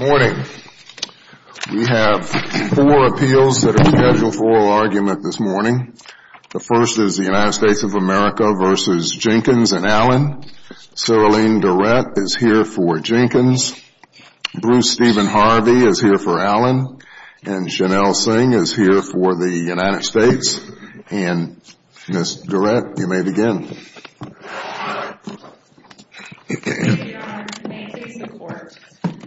Morning. We have four appeals that are scheduled for oral argument this morning. The first is the United States of America v. Jenkins and Allen. Cyrilene Durrett is here for Jenkins. Bruce Stephen Harvey is here for Allen. And Janelle Singh is here for the United States. And Ms. Durrett, you may begin. Thank you, Your Honor, and may it please the Court.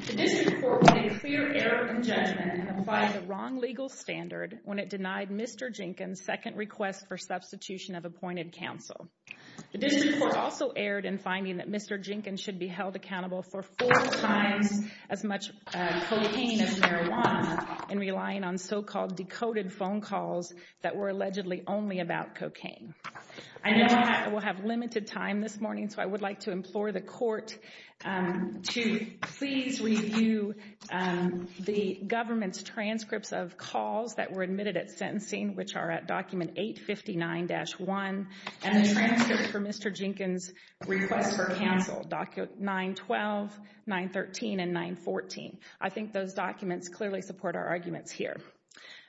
The District Court made a clear error in judgment in applying the wrong legal standard when it denied Mr. Jenkins' second request for substitution of appointed counsel. The District Court also erred in finding that Mr. Jenkins should be held accountable for four times as much cocaine as marijuana in relying on so-called decoded phone calls that were allegedly made by Mr. Jenkins and Mr. Allen. I know I will have limited time this morning, so I would like to implore the Court to please review the government's transcripts of calls that were admitted at sentencing, which are at document 859-1, and the transcripts for Mr. Jenkins' request for counsel, document 912, 913, and 914. I think those documents clearly support our arguments here.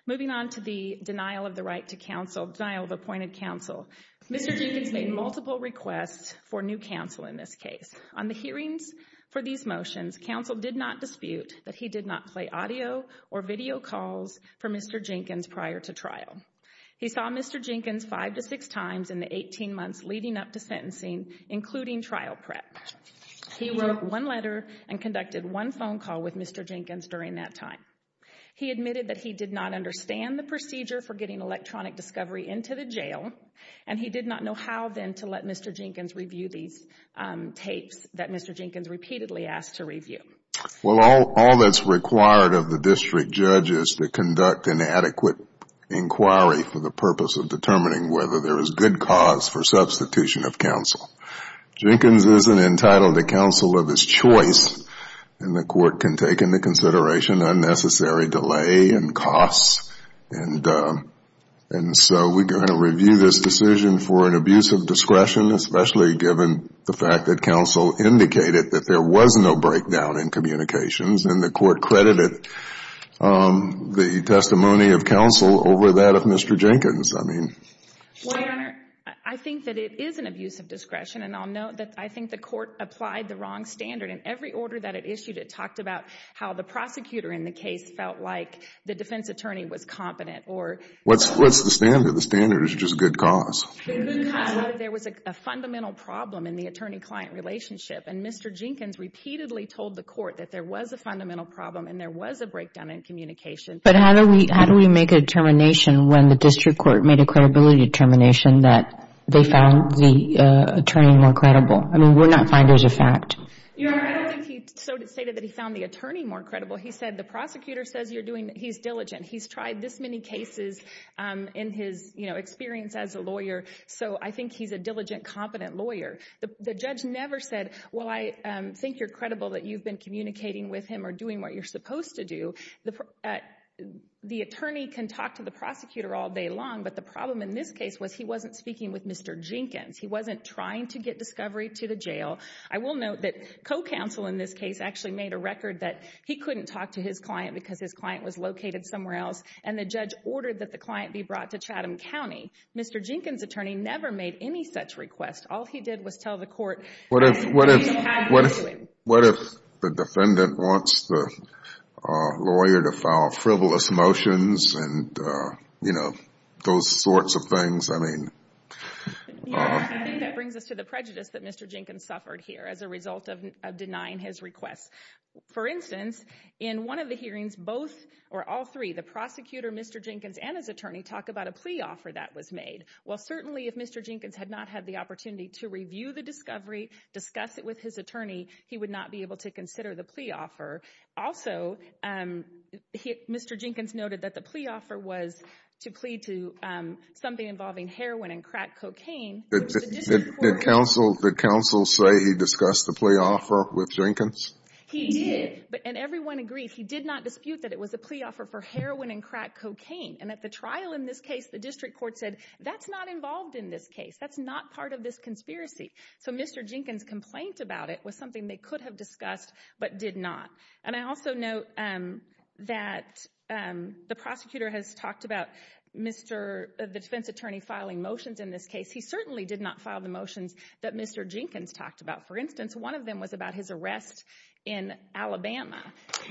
Moving on to the denial of the right to counsel, denial of appointed counsel, Mr. Jenkins made multiple requests for new counsel in this case. On the hearings for these motions, counsel did not dispute that he did not play audio or video calls for Mr. Jenkins prior to trial. He saw Mr. Jenkins five to six times in the 18 months leading up to sentencing, including trial prep. He wrote one letter and conducted one phone call with Mr. Jenkins during that time. He admitted that he did not understand the procedure for getting electronic discovery into the jail, and he did not know how then to let Mr. Jenkins review these tapes that Mr. Jenkins repeatedly asked to review. Well, all that is required of the district judge is to conduct an adequate inquiry for the purpose of determining whether there is good cause for substitution of counsel. Jenkins is not entitled to counsel of his choice, and the Court can take into consideration unnecessary delay and costs. And so we're going to review this decision for an abuse of discretion, especially given the fact that counsel indicated that there was no breakdown in communications, and the Court credited the testimony of counsel over that of Mr. Jenkins. Well, Your Honor, I think that it is an abuse of discretion, and I'll note that I think the Court applied the wrong standard. In every order that it issued, it talked about how the prosecutor in the case felt like the defense attorney was competent. What's the standard? The standard is just good cause. There was a fundamental problem in the attorney-client relationship, and Mr. Jenkins repeatedly told the Court that there was a fundamental problem and there was a breakdown in communication. But how do we make a determination when the district court made a credibility determination that they found the attorney more credible? I mean, we're not finders of fact. Your Honor, I don't think he stated that he found the attorney more credible. He said the prosecutor says he's diligent. He's tried this many cases in his experience as a lawyer, so I think he's a diligent, competent lawyer. The judge never said, well, I think you're credible that you've been communicating with him or doing what you're supposed to do. The attorney can talk to the prosecutor all day long, but the problem in this case was he wasn't speaking with Mr. Jenkins. He wasn't trying to get discovery to the jail. I will note that co-counsel in this case actually made a record that he couldn't talk to his client because his client was located somewhere else, and the judge ordered that the client be brought to Chatham County. Mr. Jenkins' attorney never made any such request. All he did was tell the court what he had to do. What if the defendant wants the lawyer to file frivolous motions and, you know, those sorts of things? I mean... Yes, I think that brings us to the prejudice that Mr. Jenkins suffered here as a result of denying his request. For instance, in one of the hearings, both or all three, the prosecutor, Mr. Jenkins, and his attorney talk about a plea offer that was made. Well, certainly if Mr. Jenkins had not had the opportunity to review the discovery, discuss it with his attorney, he would not be able to consider the plea offer. Also, Mr. Jenkins noted that the plea offer was to plead to something involving heroin and crack cocaine. Did counsel say he discussed the plea offer with Jenkins? He did, and everyone agreed. He did not dispute that it was a plea offer for heroin and crack cocaine. And at the trial in this case, the district court said, that's not involved in this case. That's not part of this conspiracy. So Mr. Jenkins' complaint about it was something they could have discussed but did not. And I also note that the prosecutor has talked about the defense attorney filing motions in this case. He certainly did not file the motions that Mr. Jenkins talked about. For instance, one of them was about his arrest in Alabama.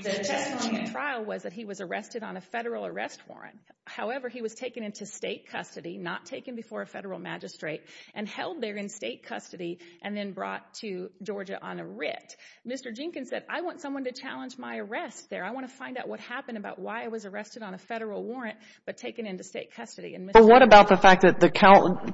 The testimony at the trial was that he was arrested on a federal arrest warrant. However, he was taken into state custody, not taken before a federal magistrate, and held there in state custody and then brought to Georgia on a writ. Mr. Jenkins said, I want someone to challenge my arrest there. I want to find out what happened about why I was arrested on a federal warrant but taken into state custody. But what about the fact that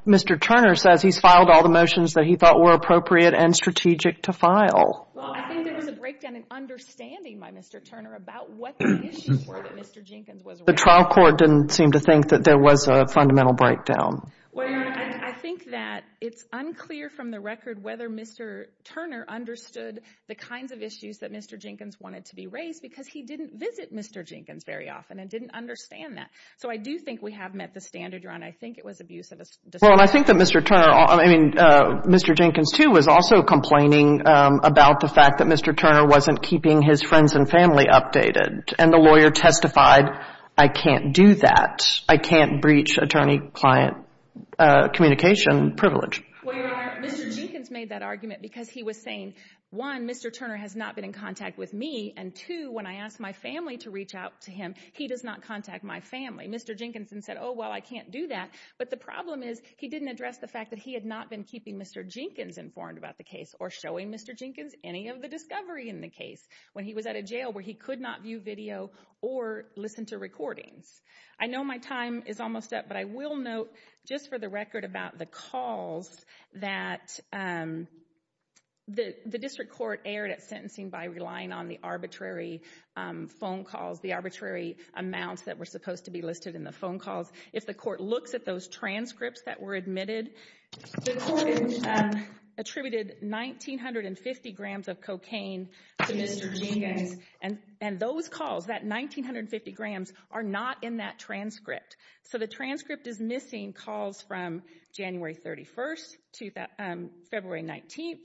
Mr. Turner says he's filed all the motions that he thought were appropriate and strategic to file? Well, I think there was a breakdown in understanding by Mr. Turner about what the issues were that Mr. Jenkins was aware of. The trial court didn't seem to think that there was a fundamental breakdown. Well, Your Honor, I think that it's unclear from the record whether Mr. Turner understood the kinds of issues that Mr. Jenkins wanted to be raised because he didn't visit Mr. Jenkins very often and didn't understand that. So I do think we have met the standard, Your Honor. I think it was abuse of discretion. Well, I think that Mr. Turner, I mean, Mr. Jenkins, too, was also complaining about the fact that Mr. Turner wasn't keeping his friends and family updated. And the lawyer testified, I can't do that. I can't breach attorney-client communication privilege. Well, Your Honor, Mr. Jenkins made that argument because he was saying, one, Mr. Turner has not been in contact with me, and two, when I asked my family to reach out to him, he does not contact my family. Mr. Jenkins then said, oh, well, I can't do that. But the problem is he didn't address the fact that he had not been keeping Mr. Jenkins informed about the case or showing Mr. Jenkins any of the discovery in the case when he was at a jail where he could not view video or listen to recordings. I know my time is almost up, but I will note just for the record about the calls that the district court aired at sentencing by relying on the arbitrary phone calls, the arbitrary amounts that were supposed to be listed in the phone calls. If the court looks at those transcripts that were admitted, the court attributed 1950 grams of cocaine to Mr. Jenkins. And those calls, that 1950 grams, are not in that transcript. So the transcript is missing calls from January 31st to February 19th,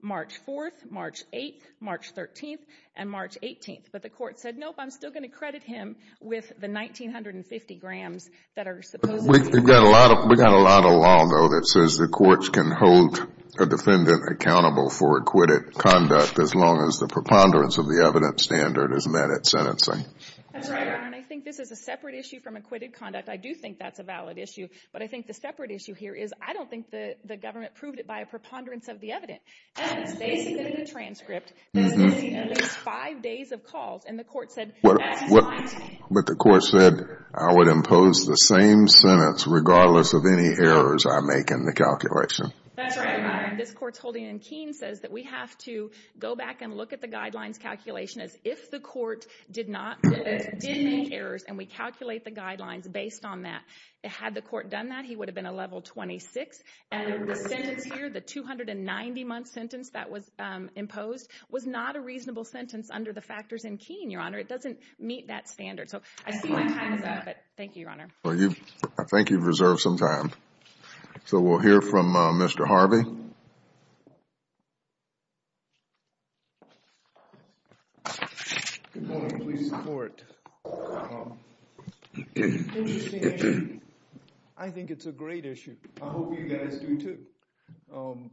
March 4th, March 8th, March 13th, and March 18th. But the court said, nope, I'm still going to credit him with the 1950 grams that are supposed to be listed. We've got a lot of law, though, that says the courts can hold a defendant accountable for acquitted conduct as long as the preponderance of the evidence standard is met at sentencing. That's right, Your Honor. And I think this is a separate issue from acquitted conduct. I do think that's a valid issue. But I think the separate issue here is I don't think the government proved it by a preponderance of the evidence. And it's basically the transcript that is missing at least five days of calls, and the court said that's fine. But the court said I would impose the same sentence regardless of any errors I make in the calculation. That's right, Your Honor. This court's holding in Keene says that we have to go back and look at the guidelines calculation as if the court did not make errors and we calculate the guidelines based on that. Had the court done that, he would have been a level 26. And the sentence here, the 290-month sentence that was imposed, was not a reasonable sentence under the factors in Keene, Your Honor. It doesn't meet that standard. So I see my time is up, but thank you, Your Honor. I think you've reserved some time. So we'll hear from Mr. Harvey. I think it's a great issue. I hope you guys do too.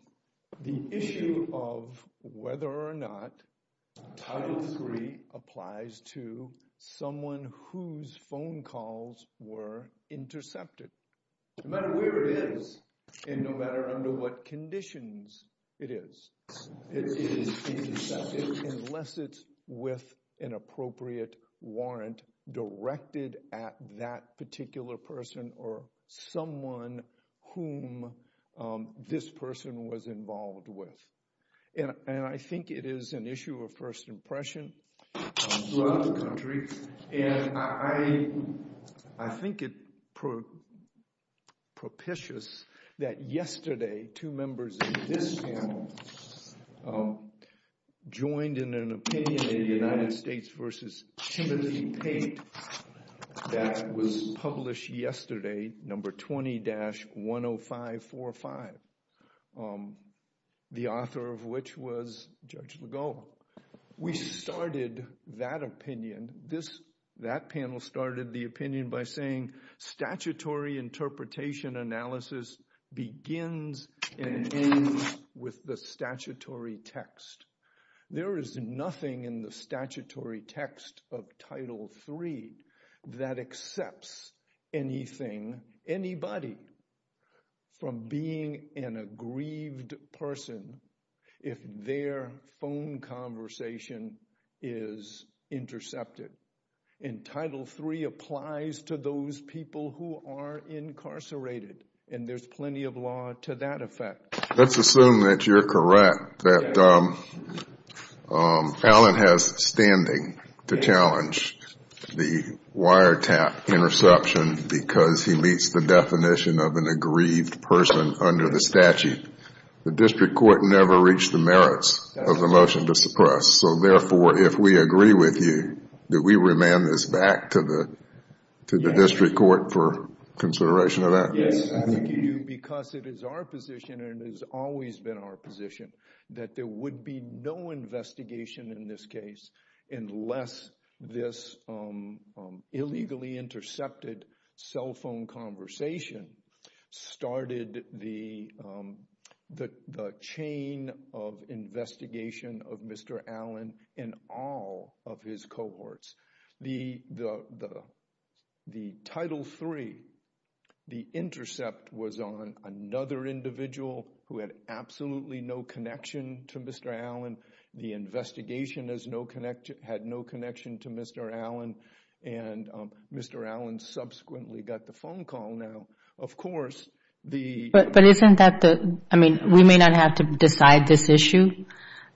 The issue of whether or not Title III applies to someone whose phone calls were intercepted. No matter where it is and no matter under what conditions it is, it is intercepted unless it's with an appropriate warrant directed at that particular person or someone whom this person was involved with. And I think it is an issue of first impression throughout the country. And I think it's propitious that yesterday two members of this panel joined in an opinion in the United States v. Timothy Pate that was published yesterday, number 20-10545, the author of which was Judge Legault. We started that opinion, that panel started the opinion by saying statutory interpretation analysis begins and ends with the statutory text. There is nothing in the statutory text of Title III that accepts anything, anybody, from being an aggrieved person if their phone conversation is intercepted. And Title III applies to those people who are incarcerated, and there's plenty of law to that effect. Let's assume that you're correct, that Allen has standing to challenge the wiretap interception because he meets the definition of an aggrieved person under the statute. The district court never reached the merits of the motion to suppress. So therefore, if we agree with you, do we remand this back to the district court for consideration of that? Yes, I think you do, because it is our position and it has always been our position that there would be no investigation in this case unless this illegally intercepted cell phone conversation started the chain of investigation of Mr. Allen and all of his cohorts. The Title III, the intercept was on another individual who had absolutely no connection to Mr. Allen. The investigation had no connection to Mr. Allen, and Mr. Allen subsequently got the phone call now. But isn't that the, I mean, we may not have to decide this issue,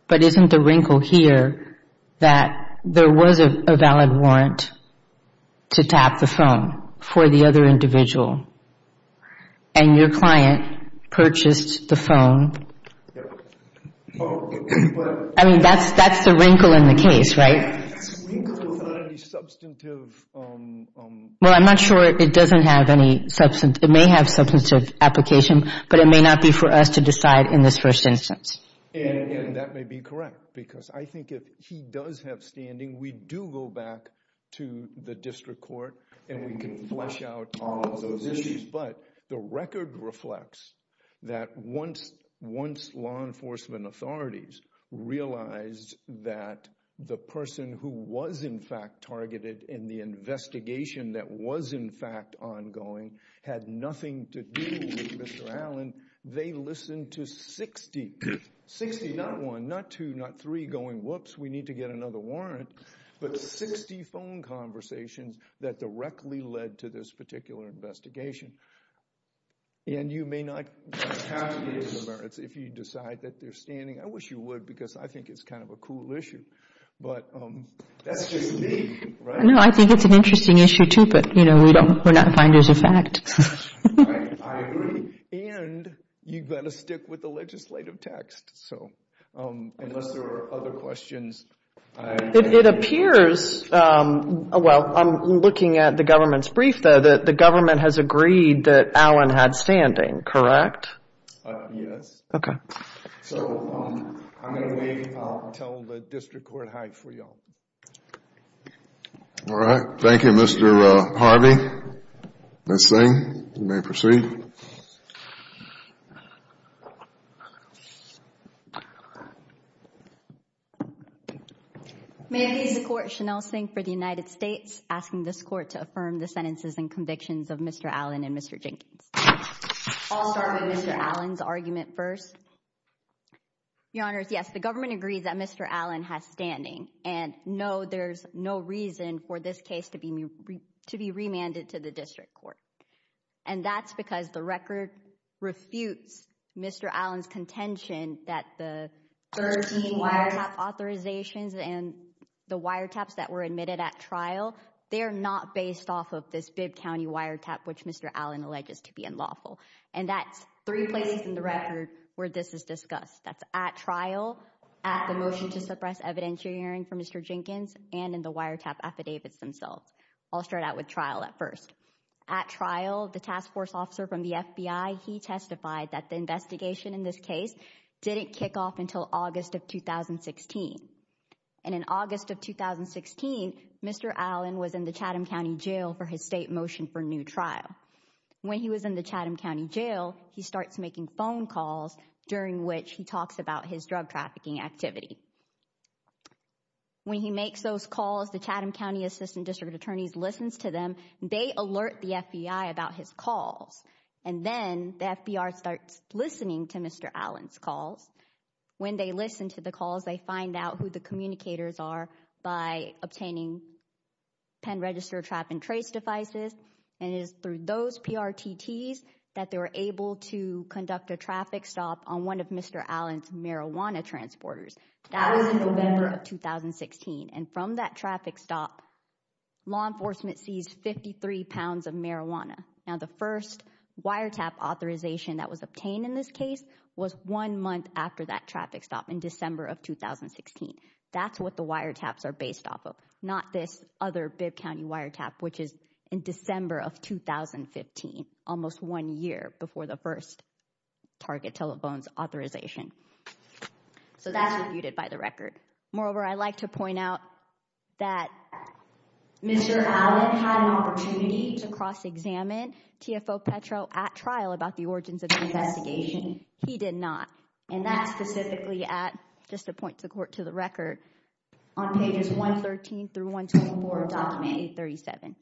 but isn't the wrinkle here that there was a valid warrant to tap the phone for the other individual, and your client purchased the phone? I mean, that's the wrinkle in the case, right? Well, I'm not sure it doesn't have any substantive, it may have substantive application, but it may not be for us to decide in this first instance. And that may be correct, because I think if he does have standing, we do go back to the district court and we can flesh out all of those issues. But the record reflects that once law enforcement authorities realized that the person who was in fact targeted in the investigation that was in fact ongoing had nothing to do with Mr. Allen, they listened to 60, 60, not one, not two, not three, going, whoops, we need to get another warrant, but 60 phone conversations that directly led to this particular investigation. And you may not have to use the merits if you decide that they're standing. I wish you would, because I think it's kind of a cool issue. But that's just me, right? No, I think it's an interesting issue too, but we're not finders of fact. I agree. And you've got to stick with the legislative text. So, unless there are other questions. It appears, well, I'm looking at the government's brief though, that the government has agreed that Allen had standing, correct? Yes. Okay. So, I'm going to wait until the district court hides for you all. All right. Thank you, Mr. Harvey. Ms. Singh, you may proceed. May I please the court, Shanelle Singh for the United States, asking this court to affirm the sentences and convictions of Mr. Allen and Mr. Jenkins. I'll start with Mr. Allen's argument first. Your Honor, yes, the government agrees that Mr. Allen has standing. And no, there's no reason for this case to be remanded to the district court. And that's because the record refutes Mr. Allen's contention that the 13 wiretap authorizations and the wiretaps that were admitted at trial, they are not based off of this Bibb County wiretap, which Mr. Allen alleges to be unlawful. And that's three places in the record where this is discussed. That's at trial, at the motion to suppress evidentiary hearing for Mr. Jenkins, and in the wiretap affidavits themselves. I'll start out with trial at first. At trial, the task force officer from the FBI, he testified that the investigation in this case didn't kick off until August of 2016. And in August of 2016, Mr. Allen was in the Chatham County jail for his state motion for new trial. When he was in the Chatham County jail, he starts making phone calls during which he talks about his drug trafficking activity. When he makes those calls, the Chatham County assistant district attorneys listens to them. They alert the FBI about his calls. And then the FBI starts listening to Mr. Allen's calls. When they listen to the calls, they find out who the communicators are by obtaining pen, register, trap, and trace devices. And it is through those PRTTs that they were able to conduct a traffic stop on one of Mr. Allen's marijuana transporters. That was in November of 2016. And from that traffic stop, law enforcement seized 53 pounds of marijuana. Now, the first wiretap authorization that was obtained in this case was one month after that traffic stop in December of 2016. That's what the wiretaps are based off of, not this other Bibb County wiretap, which is in December of 2015, almost one year before the first target telephone's authorization. So that's what you did by the record. Moreover, I'd like to point out that Mr. Allen had an opportunity to cross-examine TFO Petro at trial about the origins of the investigation. He did not. And that's specifically at, just to point to the record, on pages 113 through 124 of Document 837.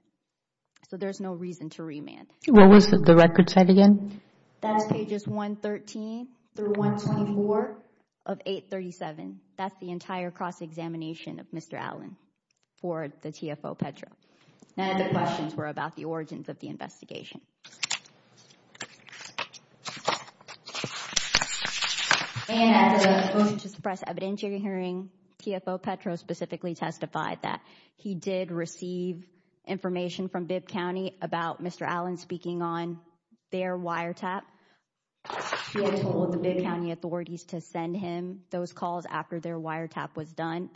So there's no reason to remand. What was the record said again? That's pages 113 through 124 of 837. That's the entire cross-examination of Mr. Allen for the TFO Petro. None of the questions were about the origins of the investigation. And at the motion to suppress evidence hearing, TFO Petro specifically testified that he did receive information from Bibb County about Mr. Allen speaking on their wiretap. He had told the Bibb County authorities to send him those calls after their wiretap was done.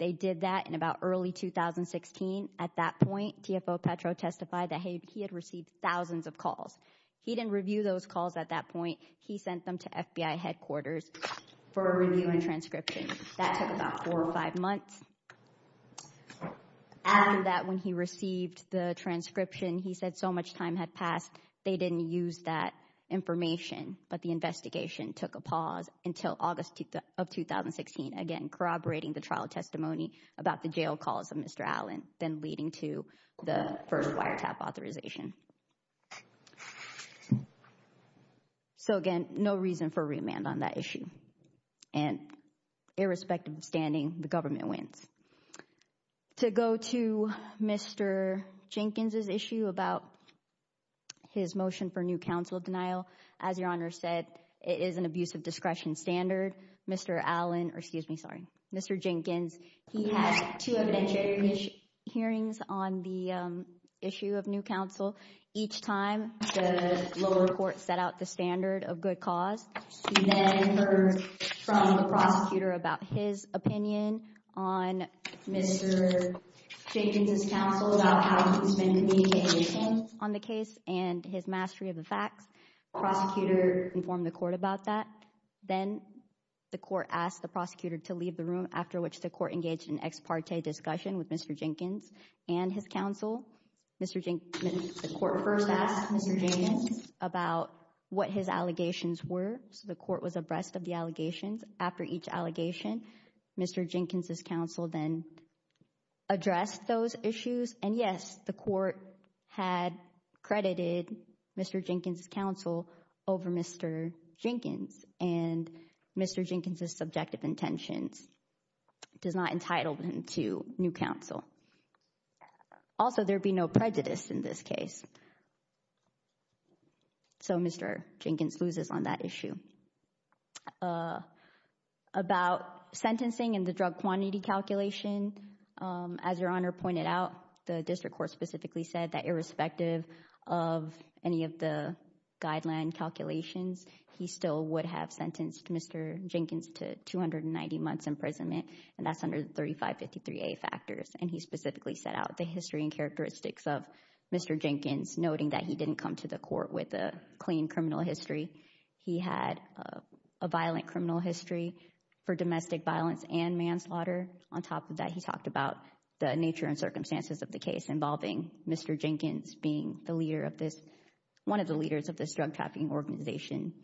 They did that in about early 2016. At that point, TFO Petro testified that he had received thousands of calls. He didn't review those calls at that point. He sent them to FBI headquarters for a review and transcription. That took about four or five months. After that, when he received the transcription, he said so much time had passed. They didn't use that information, but the investigation took a pause until August of 2016. Again, corroborating the trial testimony about the jail calls of Mr. Allen, then leading to the first wiretap authorization. So again, no reason for remand on that issue. And irrespective of standing, the government wins. To go to Mr. Jenkins' issue about his motion for new counsel of denial, as Your Honor said, it is an abuse of discretion standard. Mr. Allen—excuse me, sorry. Mr. Jenkins, he had two evidentiary hearings on the issue of new counsel. Each time, the lower court set out the standard of good cause. We then heard from the prosecutor about his opinion on Mr. Jenkins' counsel, about how he's been communicating on the case and his mastery of the facts. Prosecutor informed the court about that. Then the court asked the prosecutor to leave the room, after which the court engaged in ex parte discussion with Mr. Jenkins and his counsel. The court first asked Mr. Jenkins about what his allegations were, so the court was abreast of the allegations. After each allegation, Mr. Jenkins' counsel then addressed those issues. And yes, the court had credited Mr. Jenkins' counsel over Mr. Jenkins. And Mr. Jenkins' subjective intentions does not entitle him to new counsel. Also, there would be no prejudice in this case, so Mr. Jenkins loses on that issue. About sentencing and the drug quantity calculation, as Your Honor pointed out, the district court specifically said that irrespective of any of the guideline calculations, he still would have sentenced Mr. Jenkins to 290 months imprisonment, and that's under the 3553A factors. And he specifically set out the history and characteristics of Mr. Jenkins, noting that he didn't come to the court with a clean criminal history. He had a violent criminal history for domestic violence and manslaughter. On top of that, he talked about the nature and circumstances of the case involving Mr. Jenkins being one of the leaders of this drug trafficking organization,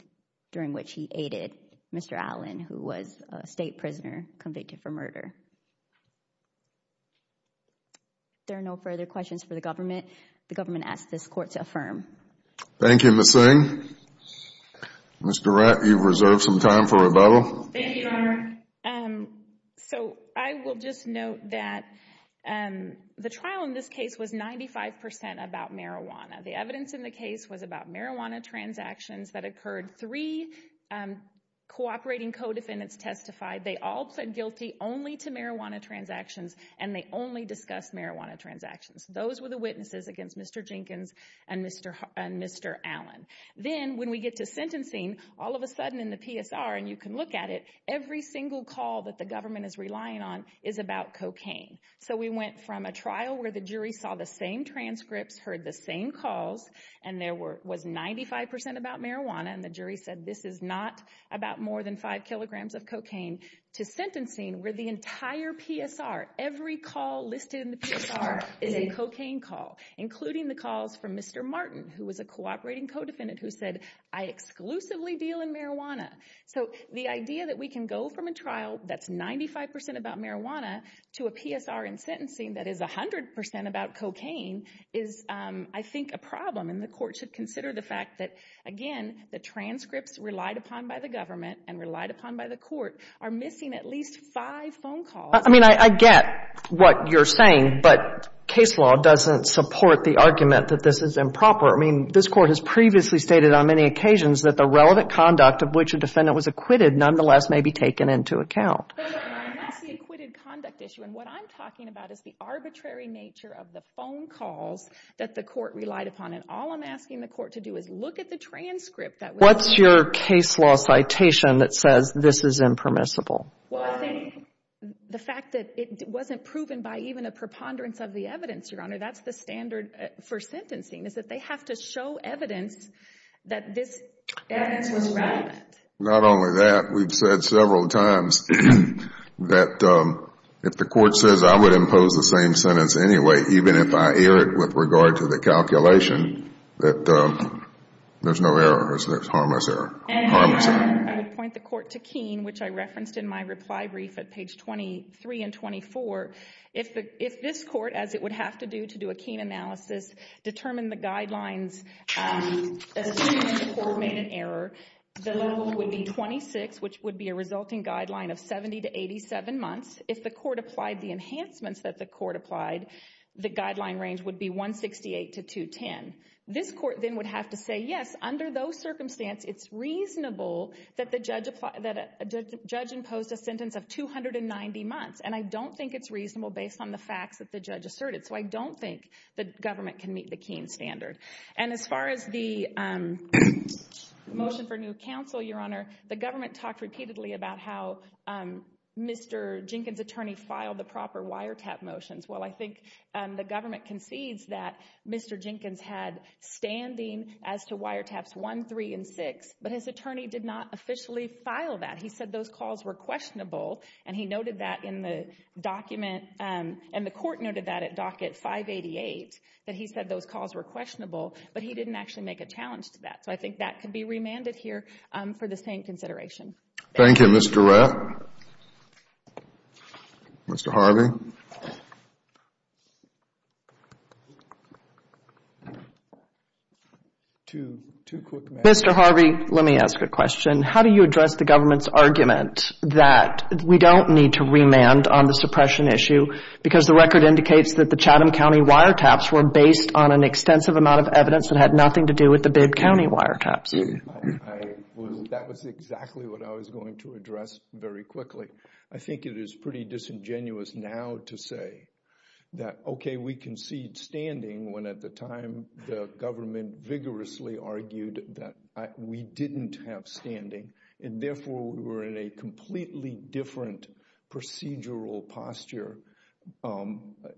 during which he aided Mr. Allen, who was a state prisoner convicted for murder. There are no further questions for the government. The government asks this court to affirm. Thank you, Ms. Singh. Ms. Durrett, you've reserved some time for rebuttal. Thank you, Your Honor. So, I will just note that the trial in this case was 95% about marijuana. The evidence in the case was about marijuana transactions that occurred. Three cooperating co-defendants testified. They all pled guilty only to marijuana transactions, and they only discussed marijuana transactions. Those were the witnesses against Mr. Jenkins and Mr. Allen. Then, when we get to sentencing, all of a sudden in the PSR, and you can look at it, every single call that the government is relying on is about cocaine. So, we went from a trial where the jury saw the same transcripts, heard the same calls, and there was 95% about marijuana, and the jury said this is not about more than five kilograms of cocaine, to sentencing where the entire PSR, every call listed in the PSR is a cocaine call, including the calls from Mr. Martin, who was a cooperating co-defendant, who said, I exclusively deal in marijuana. So, the idea that we can go from a trial that's 95% about marijuana to a PSR in sentencing that is 100% about cocaine is, I think, a problem. And the court should consider the fact that, again, the transcripts relied upon by the government and relied upon by the court are missing at least five phone calls. I mean, I get what you're saying, but case law doesn't support the argument that this is improper. I mean, this court has previously stated on many occasions that the relevant conduct of which a defendant was acquitted, nonetheless, may be taken into account. That's the acquitted conduct issue, and what I'm talking about is the arbitrary nature of the phone calls that the court relied upon, and all I'm asking the court to do is look at the transcript. What's your case law citation that says this is impermissible? Well, I think the fact that it wasn't proven by even a preponderance of the evidence, Your Honor, that's the standard for sentencing is that they have to show evidence that this evidence was relevant. Not only that, we've said several times that if the court says I would impose the same sentence anyway, even if I err it with regard to the calculation, that there's no error, there's harmless error. I would point the court to Keene, which I referenced in my reply brief at page 23 and 24. If this court, as it would have to do to do a Keene analysis, determined the guidelines, assuming the court made an error, the level would be 26, which would be a resulting guideline of 70 to 87 months. If the court applied the enhancements that the court applied, the guideline range would be 168 to 210. This court then would have to say, yes, under those circumstances, it's reasonable that the judge imposed a sentence of 290 months. And I don't think it's reasonable based on the facts that the judge asserted. So I don't think the government can meet the Keene standard. And as far as the motion for new counsel, Your Honor, the government talked repeatedly about how Mr. Jenkins' attorney filed the proper wiretap motions. Well, I think the government concedes that Mr. Jenkins had standing as to wiretaps 1, 3, and 6, but his attorney did not officially file that. He said those calls were questionable, and he noted that in the document, and the court noted that at docket 588, that he said those calls were questionable, but he didn't actually make a challenge to that. So I think that can be remanded here for the same consideration. Thank you. Thank you, Mr. Reff. Thank you, Your Honor. Mr. Harvey? Mr. Harvey, let me ask a question. How do you address the government's argument that we don't need to remand on the suppression issue because the record indicates that the Chatham County wiretaps were based on an extensive amount of evidence that had nothing to do with the Bibb County wiretaps? That was exactly what I was going to address very quickly. I think it is pretty disingenuous now to say that, okay, we concede standing when at the time the government vigorously argued that we didn't have standing, and therefore we were in a completely different procedural posture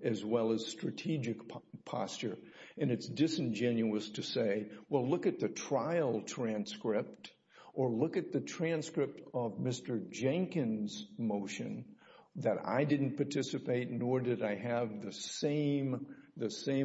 as well as strategic posture. And it's disingenuous to say, well, look at the trial transcript or look at the transcript of Mr. Jenkins' motion that I didn't participate nor did I have the same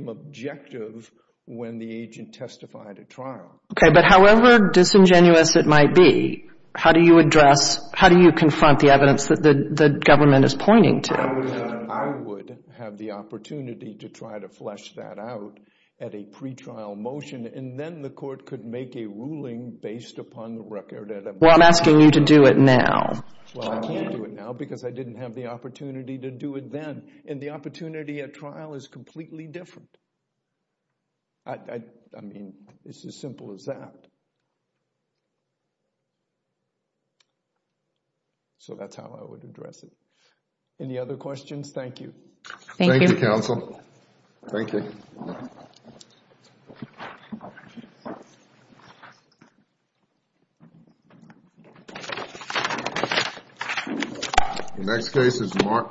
objective when the agent testified at trial. Okay, but however disingenuous it might be, how do you address, how do you confront the evidence that the government is pointing to? I would have the opportunity to try to flesh that out at a pretrial motion, and then the court could make a ruling based upon the record. Well, I'm asking you to do it now. Well, I can't do it now because I didn't have the opportunity to do it then, and the opportunity at trial is completely different. I mean, it's as simple as that. So that's how I would address it. Any other questions? Thank you. Thank you. Thank you, counsel. Thank you. The next case is Mark.